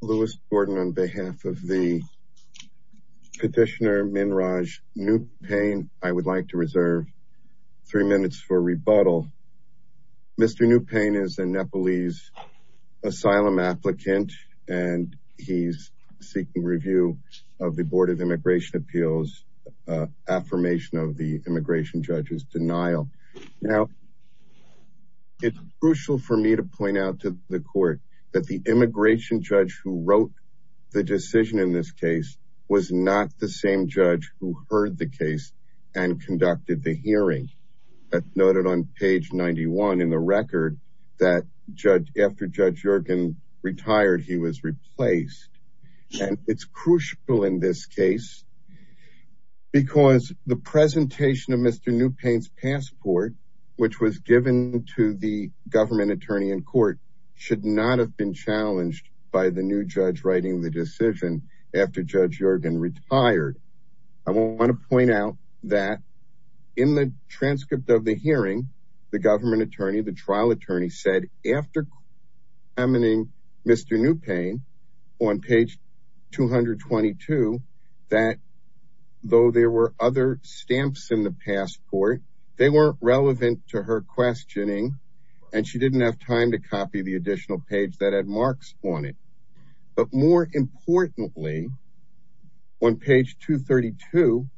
Lewis Gordon on behalf of the petitioner Minraj Neupane I would like to reserve three minutes for rebuttal. Mr. Neupane is a Nepalese asylum applicant and he's seeking review of the Board of Immigration Appeals affirmation of the immigration judge's denial. Now it's crucial for me to point out to the immigration judge who wrote the decision in this case was not the same judge who heard the case and conducted the hearing that's noted on page 91 in the record that judge after Judge Yergin retired he was replaced and it's crucial in this case because the presentation of Mr. Neupane's passport which was given to the government attorney in court should not have been challenged by the new judge writing the decision after Judge Yergin retired. I want to point out that in the transcript of the hearing the government attorney the trial attorney said after examining Mr. Neupane on page 222 that though there were other stamps in the passport they weren't relevant to her questioning and she didn't have time to copy the additional page that had marks on it but more importantly on page 232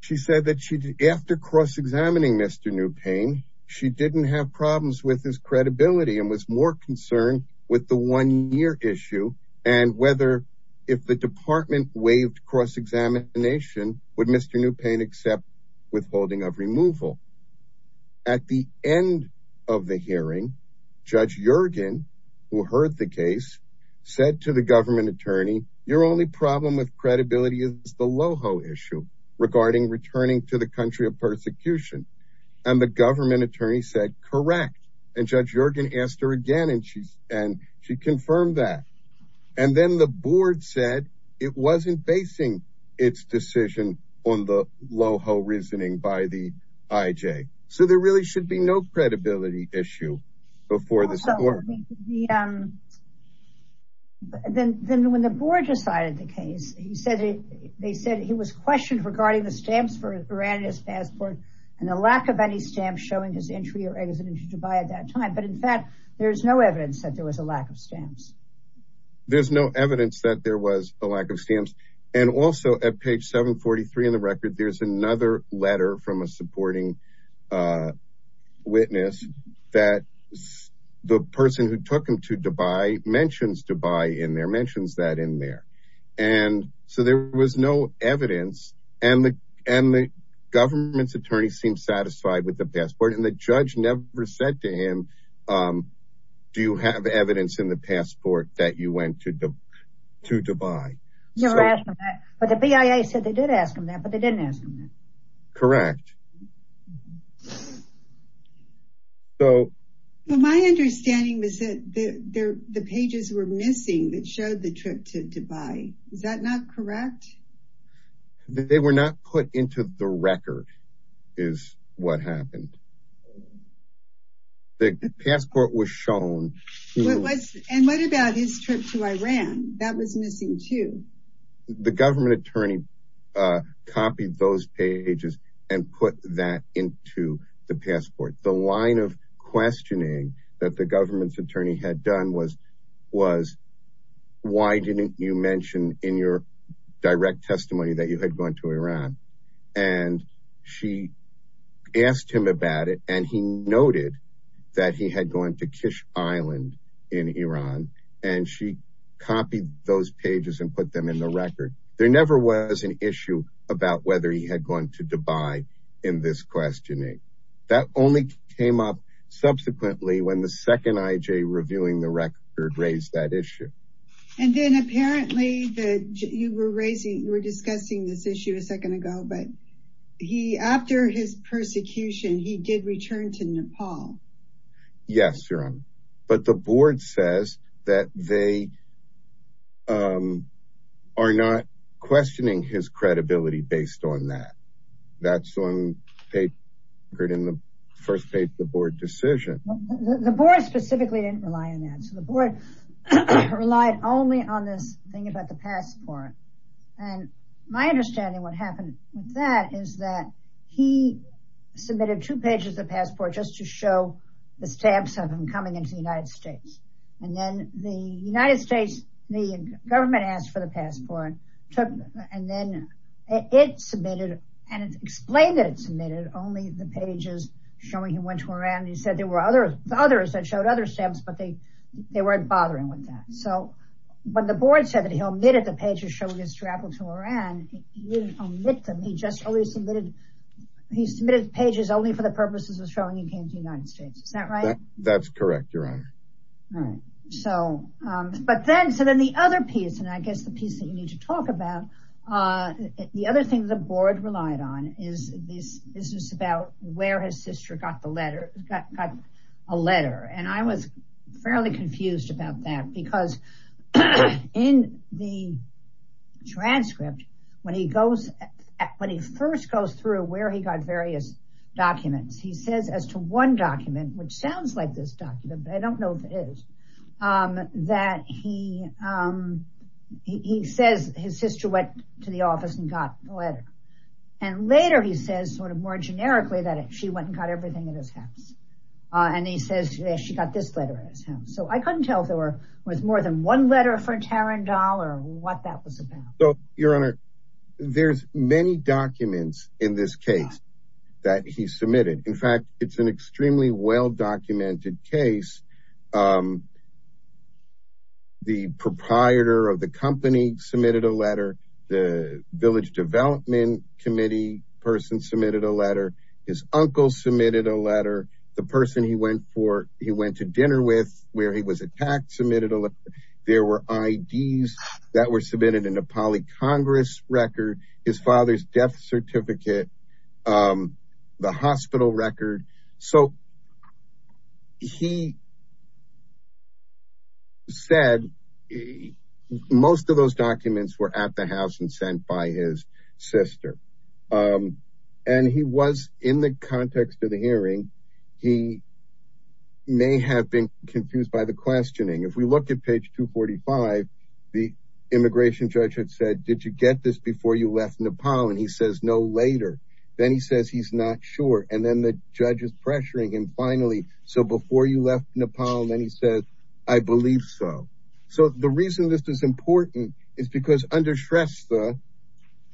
she said that she did after cross-examining Mr. Neupane she didn't have problems with his credibility and was more concerned with the one-year issue and whether if the department waived cross-examination would Mr. Neupane accept withholding of removal. At the end of the hearing Judge Yergin who heard the case said to the government attorney your only problem with credibility is the LOHO issue regarding returning to the country of persecution and the government attorney said correct and Judge Yergin asked her again and she and she confirmed that and then the board said it wasn't basing its decision on the LOHO reasoning by the IJ so there really should be no credibility issue before this court. Then when the board decided the case he said they said he was questioned regarding the stamps for his passport and the lack of any stamps showing his entry or exit into Dubai at that time but in fact there's no evidence that there was a lack of stamps. There's no evidence that there was a lack of stamps and also at page 743 in the record there's another letter from a supporting witness that the person who took him to Dubai mentions Dubai in there mentions that in there and so there was no evidence and the and the government's attorney seemed satisfied with the passport and the judge never said to him do you have evidence in the passport that you went to Dubai. But the BIA said they did ask him that but they didn't ask him that. Correct. So my understanding was that the pages were missing that showed the trip to Dubai is that not correct? They were not put into the record is what happened. The passport was shown. And what about his trip to Iran that was missing too? The government attorney copied those pages and put that into the passport. The line of questioning that the government's attorney had done was was why didn't you mention in your direct testimony that you had gone to and she asked him about it and he noted that he had gone to Kish Island in Iran and she copied those pages and put them in the record. There never was an issue about whether he had gone to Dubai in this questioning. That only came up subsequently when the second IJ reviewing the record raised that issue. And then apparently that you were raising we're discussing this issue a second ago but he after his persecution he did return to Nepal. Yes your honor but the board says that they are not questioning his credibility based on that. That's on paper in the first paper the board decision. The board specifically didn't rely on that. So the board relied only on this thing about the passport. And my understanding what happened with that is that he submitted two pages of passport just to show the stamps of him coming into the United States. And then the United States the government asked for the passport took and then it submitted and explained that it submitted only the pages showing he traveled to Iran. He said there were others that showed other stamps but they they weren't bothering with that. So when the board said that he omitted the pages showing his travel to Iran he didn't omit them he just only submitted he submitted pages only for the purposes of showing he came to United States. Is that right? That's correct your honor. So but then so then the other piece and I guess the piece that you need to talk about the other thing the board relied on is this is about where his sister got the letter got a letter and I was fairly confused about that because in the transcript when he goes when he first goes through where he got various documents he says as to one document which sounds like this document but I don't know if it is that he he says his sort of more generically that she went and got everything in his house and he says she got this letter so I couldn't tell there was more than one letter for Tarendal or what that was about. So your honor there's many documents in this case that he submitted in fact it's an extremely well documented case. The proprietor of the company submitted a letter the village development committee person submitted a letter his uncle submitted a letter the person he went for he went to dinner with where he was attacked submitted a look there were IDs that were submitted in a poly Congress record his father's death certificate the hospital record so he said most of those documents were at the house and by his sister and he was in the context of the hearing he may have been confused by the questioning if we look at page 245 the immigration judge had said did you get this before you left Nepal and he says no later then he says he's not sure and then the judge is pressuring him finally so before you left Nepal and then he says I believe so so the reason this is important is because under Shrestha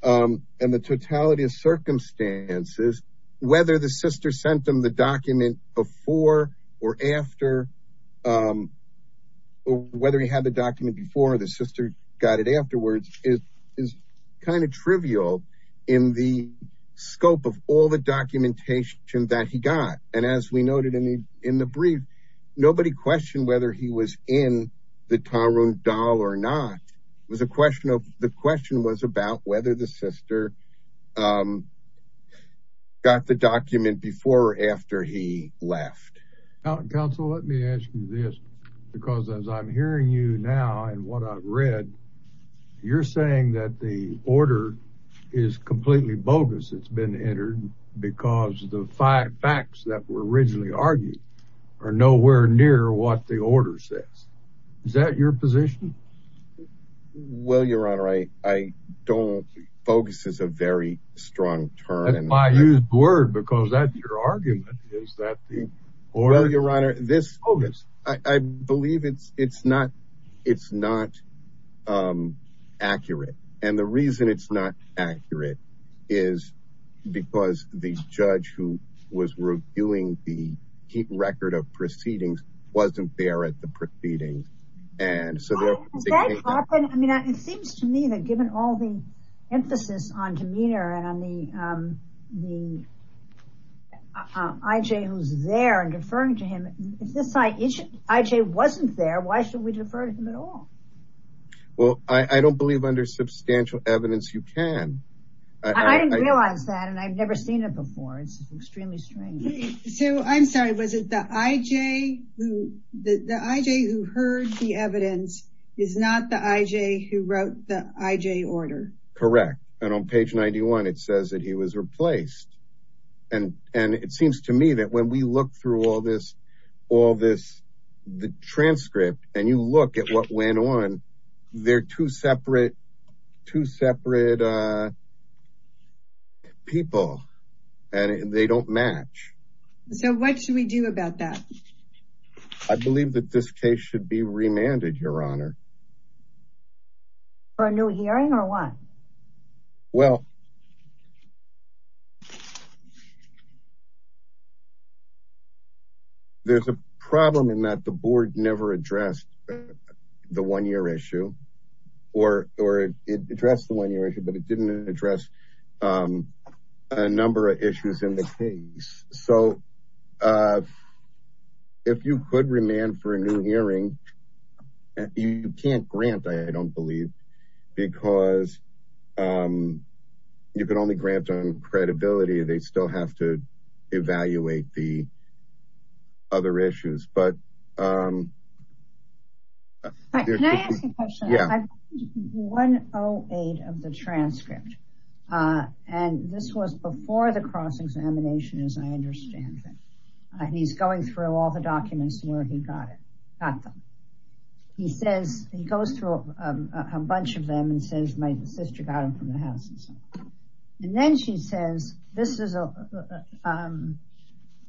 and the totality of circumstances whether the sister sent them the document before or after whether he had the document before the sister got it afterwards is kind of trivial in the scope of all the documentation that he got and as we noted in the in the brief nobody questioned whether he was in the time room doll or not was a question of the question was about whether the sister got the document before or after he left because as I'm hearing you now and what I've read you're saying that the order is completely bogus it's been entered because the five facts that were argued are nowhere near what the order says is that your position well your honor I I don't focus is a very strong turn and I used word because that your argument is that the order your honor this focus I believe it's it's not it's not accurate and the reason it's not accurate is because the judge who was reviewing the key record of proceedings wasn't there at the proceedings and so there seems to me that given all the emphasis on demeanor and I mean the IJ who's there and deferring to him if this site each IJ wasn't there why should we defer to him at all well I I don't believe under substantial evidence you realize that and I've never seen it before it's extremely strange so I'm sorry was it the IJ who the IJ who heard the evidence is not the IJ who wrote the IJ order correct and on page 91 it says that he was replaced and and it seems to me that when we look through all this all this the transcript and you look at what went on they're two separate two separate people and they don't match so what should we do about that I believe that this case should be remanded your honor for a new hearing or what well there's a problem in that the board never addressed the one-year issue or or it addressed the one-year issue but it didn't address a number of issues in the case so if you could remand for a new hearing and you can't grant I don't believe because you can only grant on credibility they still have to evaluate the other issues but one oh eight of the transcript and this was before the cross-examination as I understand that he's going through all the documents where he got it got them he says he goes through a bunch of them and says my sister got him from the house and then she says this is a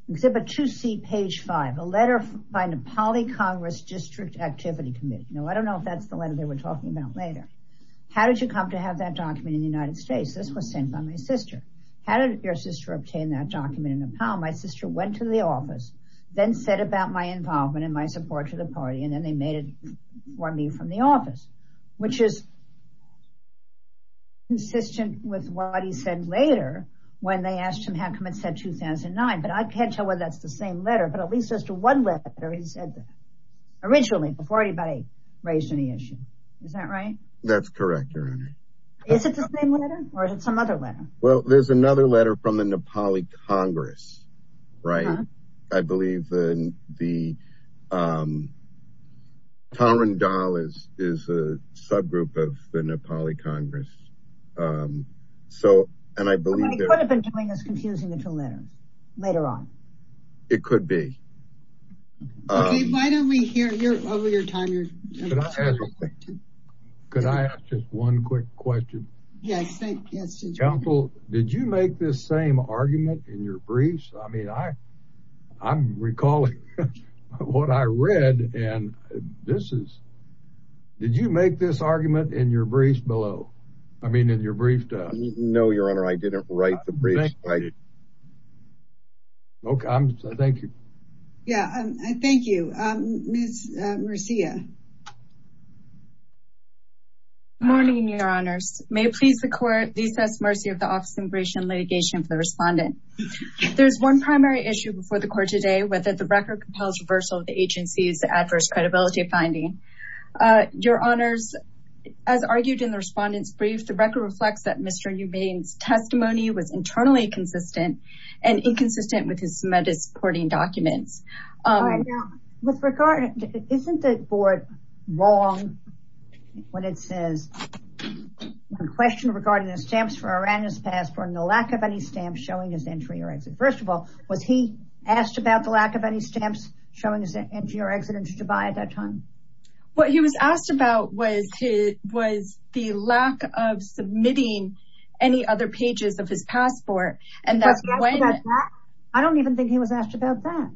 exhibit to see page five a letter by Nepali Congress District Activity Committee no I don't know if that's the letter they were talking about later how did you come to have that document in the United States this was sent by my sister how did your sister obtain that document in Nepal my sister went to the office then said about my involvement in my support to the party and then they made it for me from the office which is consistent with what he said later when they asked him how come it said 2009 but I can't tell whether that's the same letter but at least just a one letter he said originally before anybody raised any issue is that right that's correct or is it some other letter well there's even the power and dollars is a subgroup of the Nepali Congress so and I believe that later on it could be could I ask just one quick question yes it's helpful did you make this same argument in your briefs I mean I I'm recalling what I read and this is did you make this argument in your briefs below I mean in your brief does no your honor I didn't write the brief okay thank you yeah I thank you Marcia morning your honors may please the court recess mercy of the office in respondent there's one primary issue before the court today whether the record compels reversal of the agency's adverse credibility of finding your honors as argued in the respondents brief the record reflects that mr. Newman's testimony was internally consistent and inconsistent with his submitted supporting documents with regard isn't the board wrong when it lack of any stamps showing his entry or exit first of all was he asked about the lack of any stamps showing his entry or exit into Dubai at that time what he was asked about was he was the lack of submitting any other pages of his passport and that's why I don't even think he was asked about that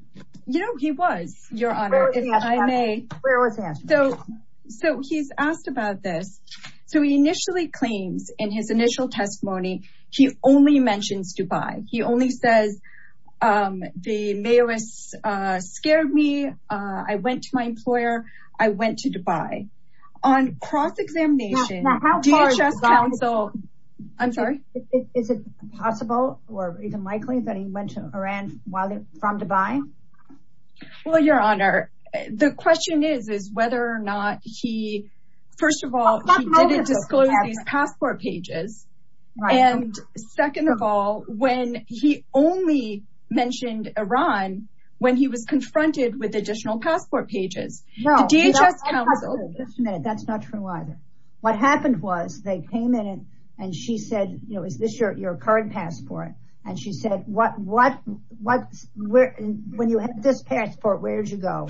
you know he was your honor if I may so so he's asked about this so he initially claims in his initial testimony he only mentions Dubai he only says the mayor is scared me I went to my employer I went to Dubai on cross-examination so I'm sorry is it possible or even likely that he went to Iran while they're from Dubai well your honor the question is is whether or not he first of all didn't passport pages and second of all when he only mentioned Iran when he was confronted with additional passport pages no DHS council that's not true either what happened was they came in and she said you know is this your your current passport and she said what what what where when you have this passport where'd you go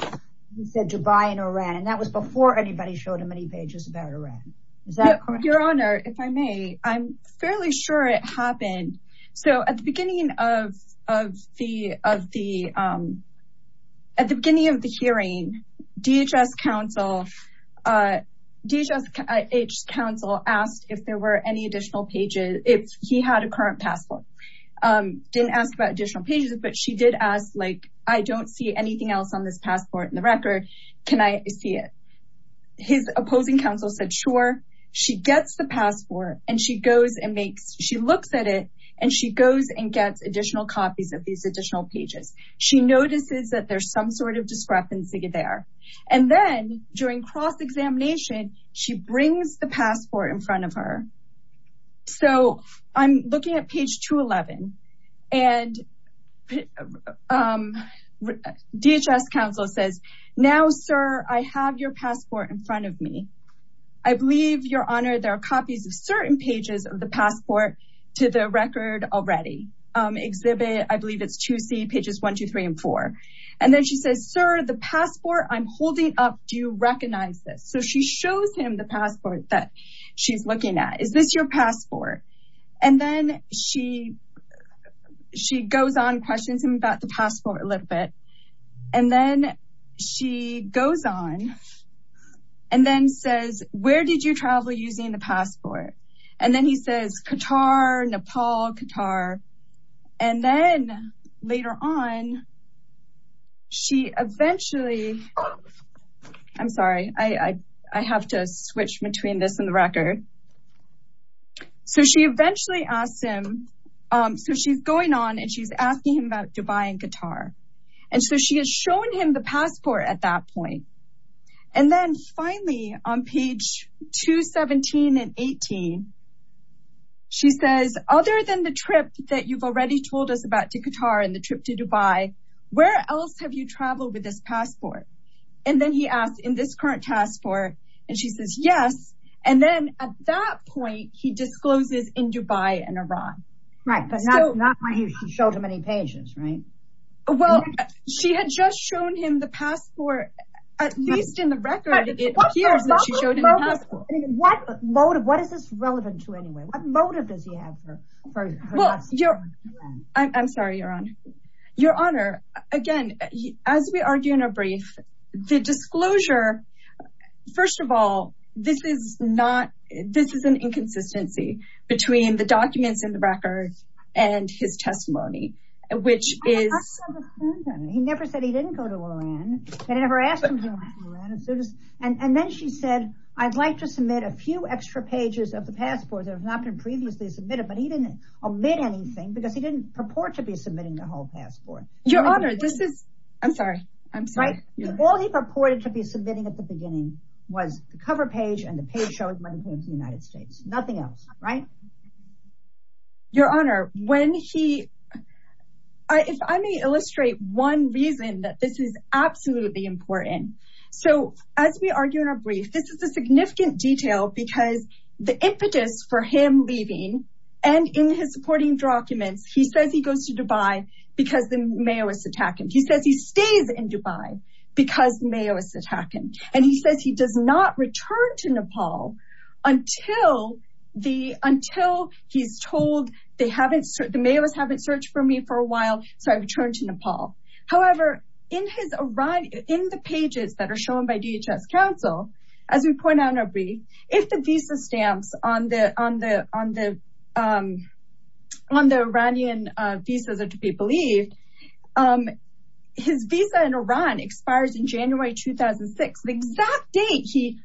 he said to buy in Iran and that was before anybody showed him any pages about Iran is that your honor if I may I'm fairly sure it happened so at the beginning of of the of the at the beginning of the hearing DHS council DHS council asked if there were any additional pages if he had a current passport didn't ask about additional pages but she did ask like I don't see on this passport in the record can I see it his opposing counsel said sure she gets the passport and she goes and makes she looks at it and she goes and gets additional copies of these additional pages she notices that there's some sort of discrepancy there and then during cross-examination she brings the DHS counsel says now sir I have your passport in front of me I believe your honor there are copies of certain pages of the passport to the record already exhibit I believe it's to see pages one two three and four and then she says sir the passport I'm holding up do you recognize this so she shows him the passport that she's looking at is this your passport and then she she goes on about the passport a little bit and then she goes on and then says where did you travel using the passport and then he says Qatar Nepal Qatar and then later on she eventually I'm sorry I I have to switch between this and the record so she eventually asked him so she's going on and she's asking him about Dubai and Qatar and so she has shown him the passport at that point and then finally on page 217 and 18 she says other than the trip that you've already told us about to Qatar and the trip to Dubai where else have you traveled with this passport and then he asked in this current task force and she says yes and then at that point he discloses in Dubai and Iran right but not why he showed him any pages right well she had just shown him the passport at least in the record what motive what is this relevant to anyway what motive does he have for well you're I'm sorry you're on your honor again as we argue in a brief the disclosure first of all this is not this is an inconsistency between the documents in the record and his testimony and which is and then she said I'd like to submit a few extra pages of the passport there's nothing previously submitted but he didn't admit anything because he didn't purport to be all he purported to be submitting at the beginning was the cover page and the page shows when he came to the United States nothing else right your honor when he if I may illustrate one reason that this is absolutely important so as we argue in our brief this is a significant detail because the impetus for him leaving and in his supporting documents he says he goes to Dubai because the mayor was attacking he says he stays in Dubai because mayor is attacking and he says he does not return to Nepal until the until he's told they haven't served the mayor's haven't searched for me for a while so I returned to Nepal however in his Iran in the pages that are shown by DHS counsel as we point out our brief if the visa stamps on the on the on the on the Iranian visas are to be believed his visa in Iran expires in January 2006 the exact date he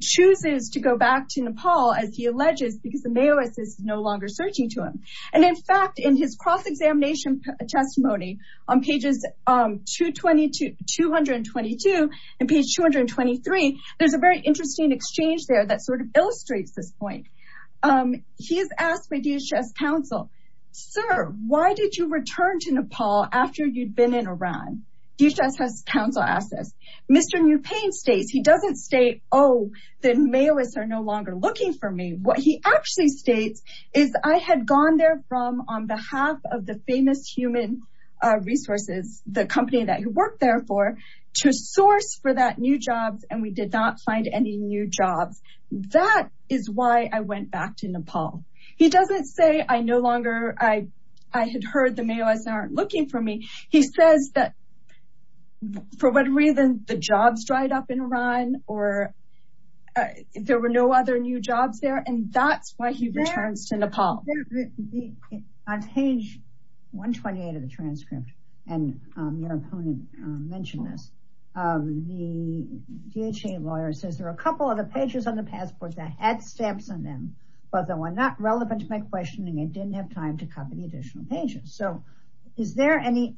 chooses to go back to Nepal as he alleges because the mayor is no longer searching to him and in fact in his cross-examination testimony on pages 222 222 and page 223 there's a very interesting exchange there that why did you return to Nepal after you'd been in Iran DHS has counsel assets mr. new pain states he doesn't stay oh then mail is there no longer looking for me what he actually states is I had gone there from on behalf of the famous human resources the company that you work there for to source for that new jobs and we did not find any new jobs that is why I went back to Nepal he doesn't say I no longer I I had heard the mail isn't looking for me he says that for what reason the jobs dried up in Iran or there were no other new jobs there and that's why he returns to Nepal on page 128 of the transcript and your opponent mentioned this the DHA lawyer says there are a couple of the pages on the passport that had stamps on them but they were not relevant to my questioning it didn't have time to cover the additional pages so is there any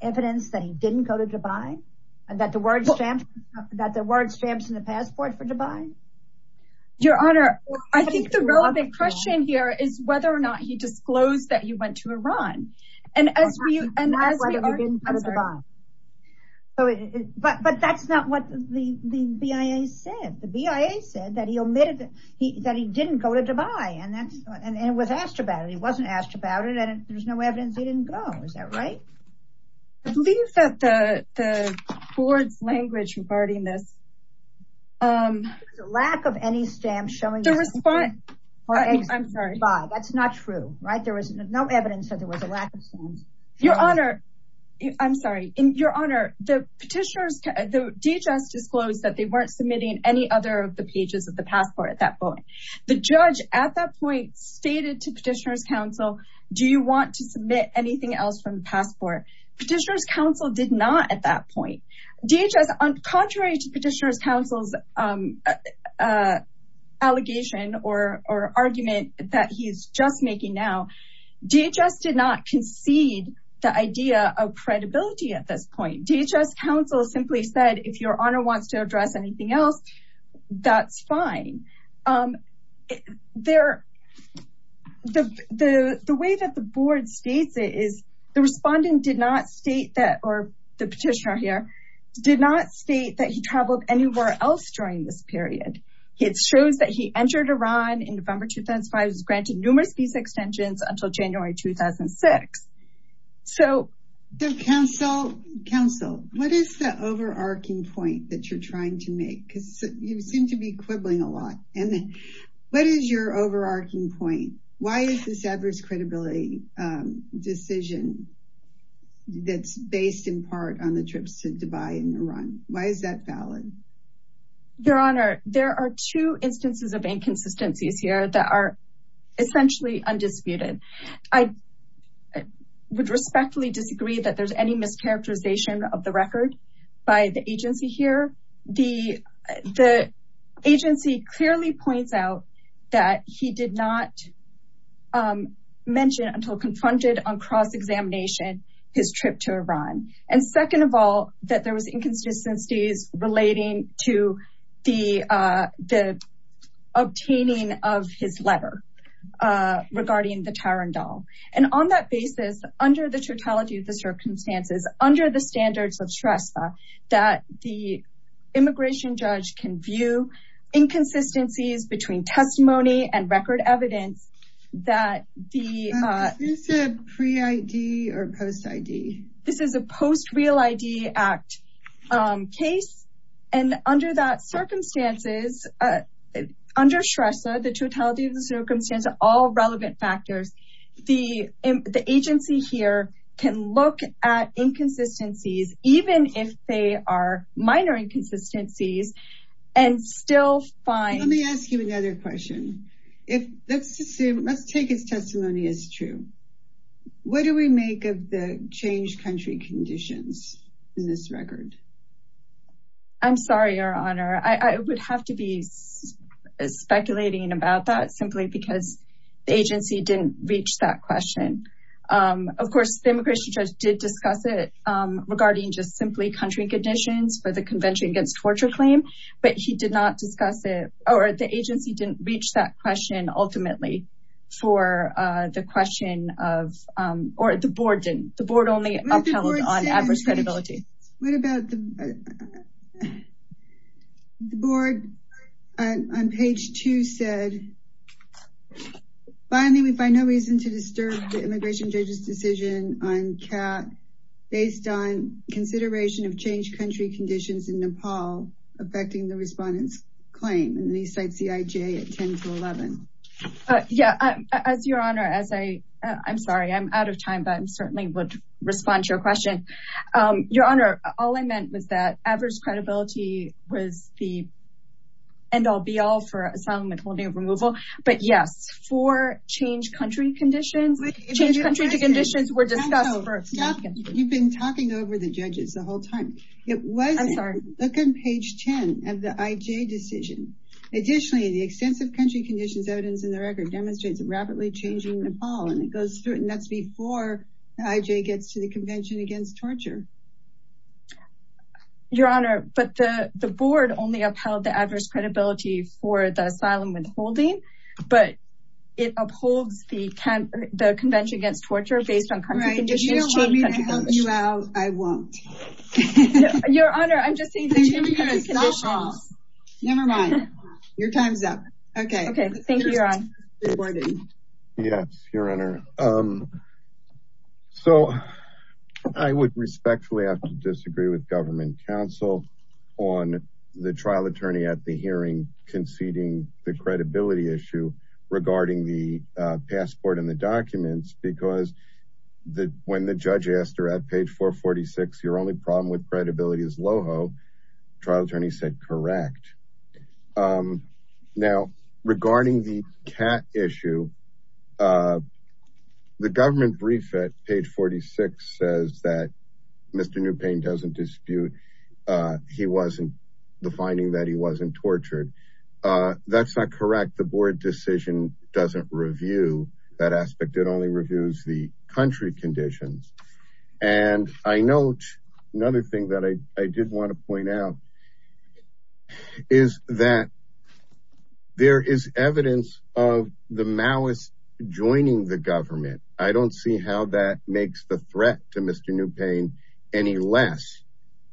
evidence that he didn't go to Dubai and that the word stamp that the word stamps in the passport for Dubai your honor I think the relevant question here is whether or not he disclosed that you said the BIA said that he omitted that he didn't go to Dubai and that's and it was asked about it he wasn't asked about it and there's no evidence he didn't go is that right I believe that the the board's language regarding this lack of any stamp showing the response I'm sorry that's not true right there was no evidence that there was a lack of your honor I'm sorry in your honor the DHS disclosed that they weren't submitting any other of the pages of the passport at that point the judge at that point stated to petitioners counsel do you want to submit anything else from the passport petitioners counsel did not at that point DHS on contrary to petitioners counsel's allegation or or argument that he's just making now DHS did not concede the idea of credibility at this point DHS counsel simply said if your honor wants to address anything else that's fine they're the the way that the board states it is the respondent did not state that or the petitioner here did not state that he traveled anywhere else during this period it shows that he entered Iran in November 2005 was granted numerous these extensions until January 2006 so the counsel counsel what is the overarching point that you're trying to make because you seem to be quibbling a lot and what is your overarching point why is this adverse credibility decision that's based in part on the trips to Dubai in Iran why is that valid your honor there are two instances of inconsistencies here that are essentially undisputed I would respectfully disagree that there's any mischaracterization of the record by the agency here the the agency clearly points out that he did not mention until confronted on cross-examination his trip to Iran and second of all that there was inconsistencies relating to the the obtaining of his letter regarding the Tyron doll and on that basis under the circumstances under the standards of stress that the immigration judge can view inconsistencies between testimony and record evidence that the pre ID or post ID this is a post real ID act case and under that circumstances under stress the agency here can look at inconsistencies even if they are minor inconsistencies and still fine let's take his testimony is true what do we make of the change country conditions in this record I'm sorry your honor I would have to be speculating about that simply because the agency didn't reach that question of course the immigration judge did discuss it regarding just simply country conditions for the Convention Against Torture claim but he did not discuss it or the agency didn't reach that question ultimately for the question of or the board didn't the board only on adverse credibility what about the board on page two said finally we find no reason to disturb the immigration judges decision on cat based on consideration of change country conditions in Nepal affecting the respondents claim and these sites the IJ at 10 to 11 yeah as your honor as I I'm sorry I'm out of time but I'm would respond to your question your honor all I meant was that adverse credibility was the end-all be-all for asylum and holding of removal but yes for change country conditions conditions were discussed you've been talking over the judges the whole time it wasn't sorry look on page 10 of the IJ decision additionally the extensive country conditions evidence in the record rapidly changing Nepal and it goes through it and that's before the IJ gets to the Convention Against Torture your honor but the the board only upheld the adverse credibility for the asylum withholding but it upholds the can the Convention Against Torture based on country condition I won't your honor I'm never mind your time's up okay okay thank you yes your honor so I would respectfully have to disagree with Government Council on the trial attorney at the hearing conceding the credibility issue regarding the passport and the documents because the when the judge asked her at page 446 your only problem with credibility is loho trial attorney said correct now regarding the cat issue the government brief at page 46 says that mr. new pain doesn't dispute he wasn't the finding that he wasn't tortured that's not correct the board decision doesn't review that aspect it only reviews the country conditions and I know another thing that I did want to point out is that there is evidence of the malice joining the government I don't see how that makes the threat to mr. new pain any less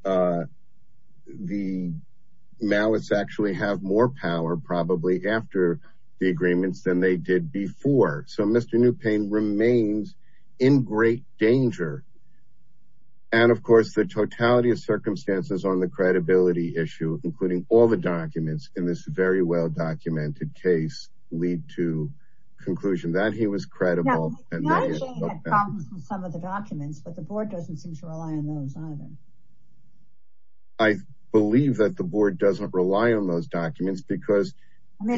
the malice actually have more power probably after agreements than they did before so mr. new pain remains in great danger and of course the totality of circumstances on the credibility issue including all the documents in this very well documented case lead to conclusion that he was credible I believe that the board doesn't rely on those documents because right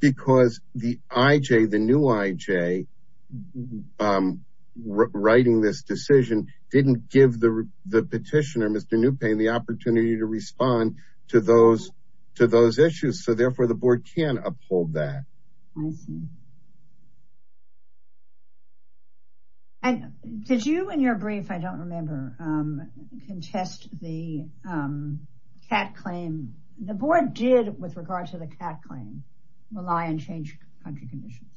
because the IJ the new IJ writing this decision didn't give the petitioner mr. new pain the opportunity to respond to those to those issues so therefore the board can uphold that and did you and your brief I don't remember contest the cat claim the board did with regard to the cat claim rely and change country conditions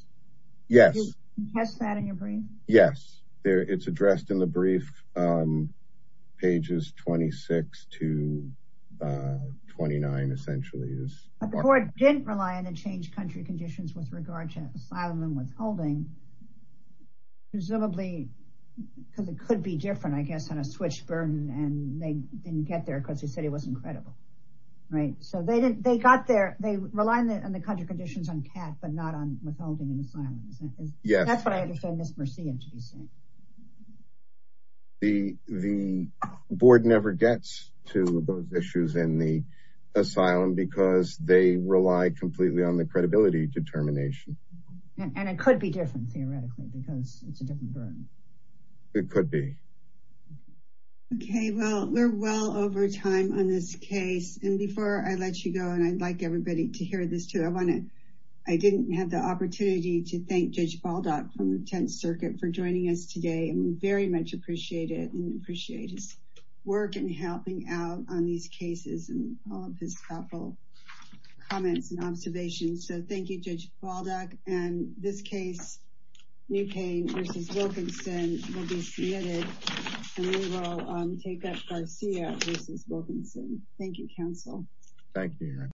yes yes there it's addressed in the brief pages 26 to 29 essentially is didn't rely on and change country conditions with regard to asylum and withholding presumably because it could be different I guess on a switch burden and they didn't get there because he said he wasn't credible right so they didn't they got there they rely on the country conditions on cat but not on withholding and asylums yes that's what I understand this mercy and to be seen the the board never gets to those issues in the asylum because they rely completely on the credibility determination and it could be different theoretically because it's it could be okay well we're well over time on this case and before I let you go and I'd like everybody to hear this too I want it I didn't have the opportunity to thank judge Baldock from the Tenth Circuit for joining us today and we very much appreciate it and appreciate his work and helping out on these cases and all of his thoughtful comments and observations so thank you and this case thank you counsel thank you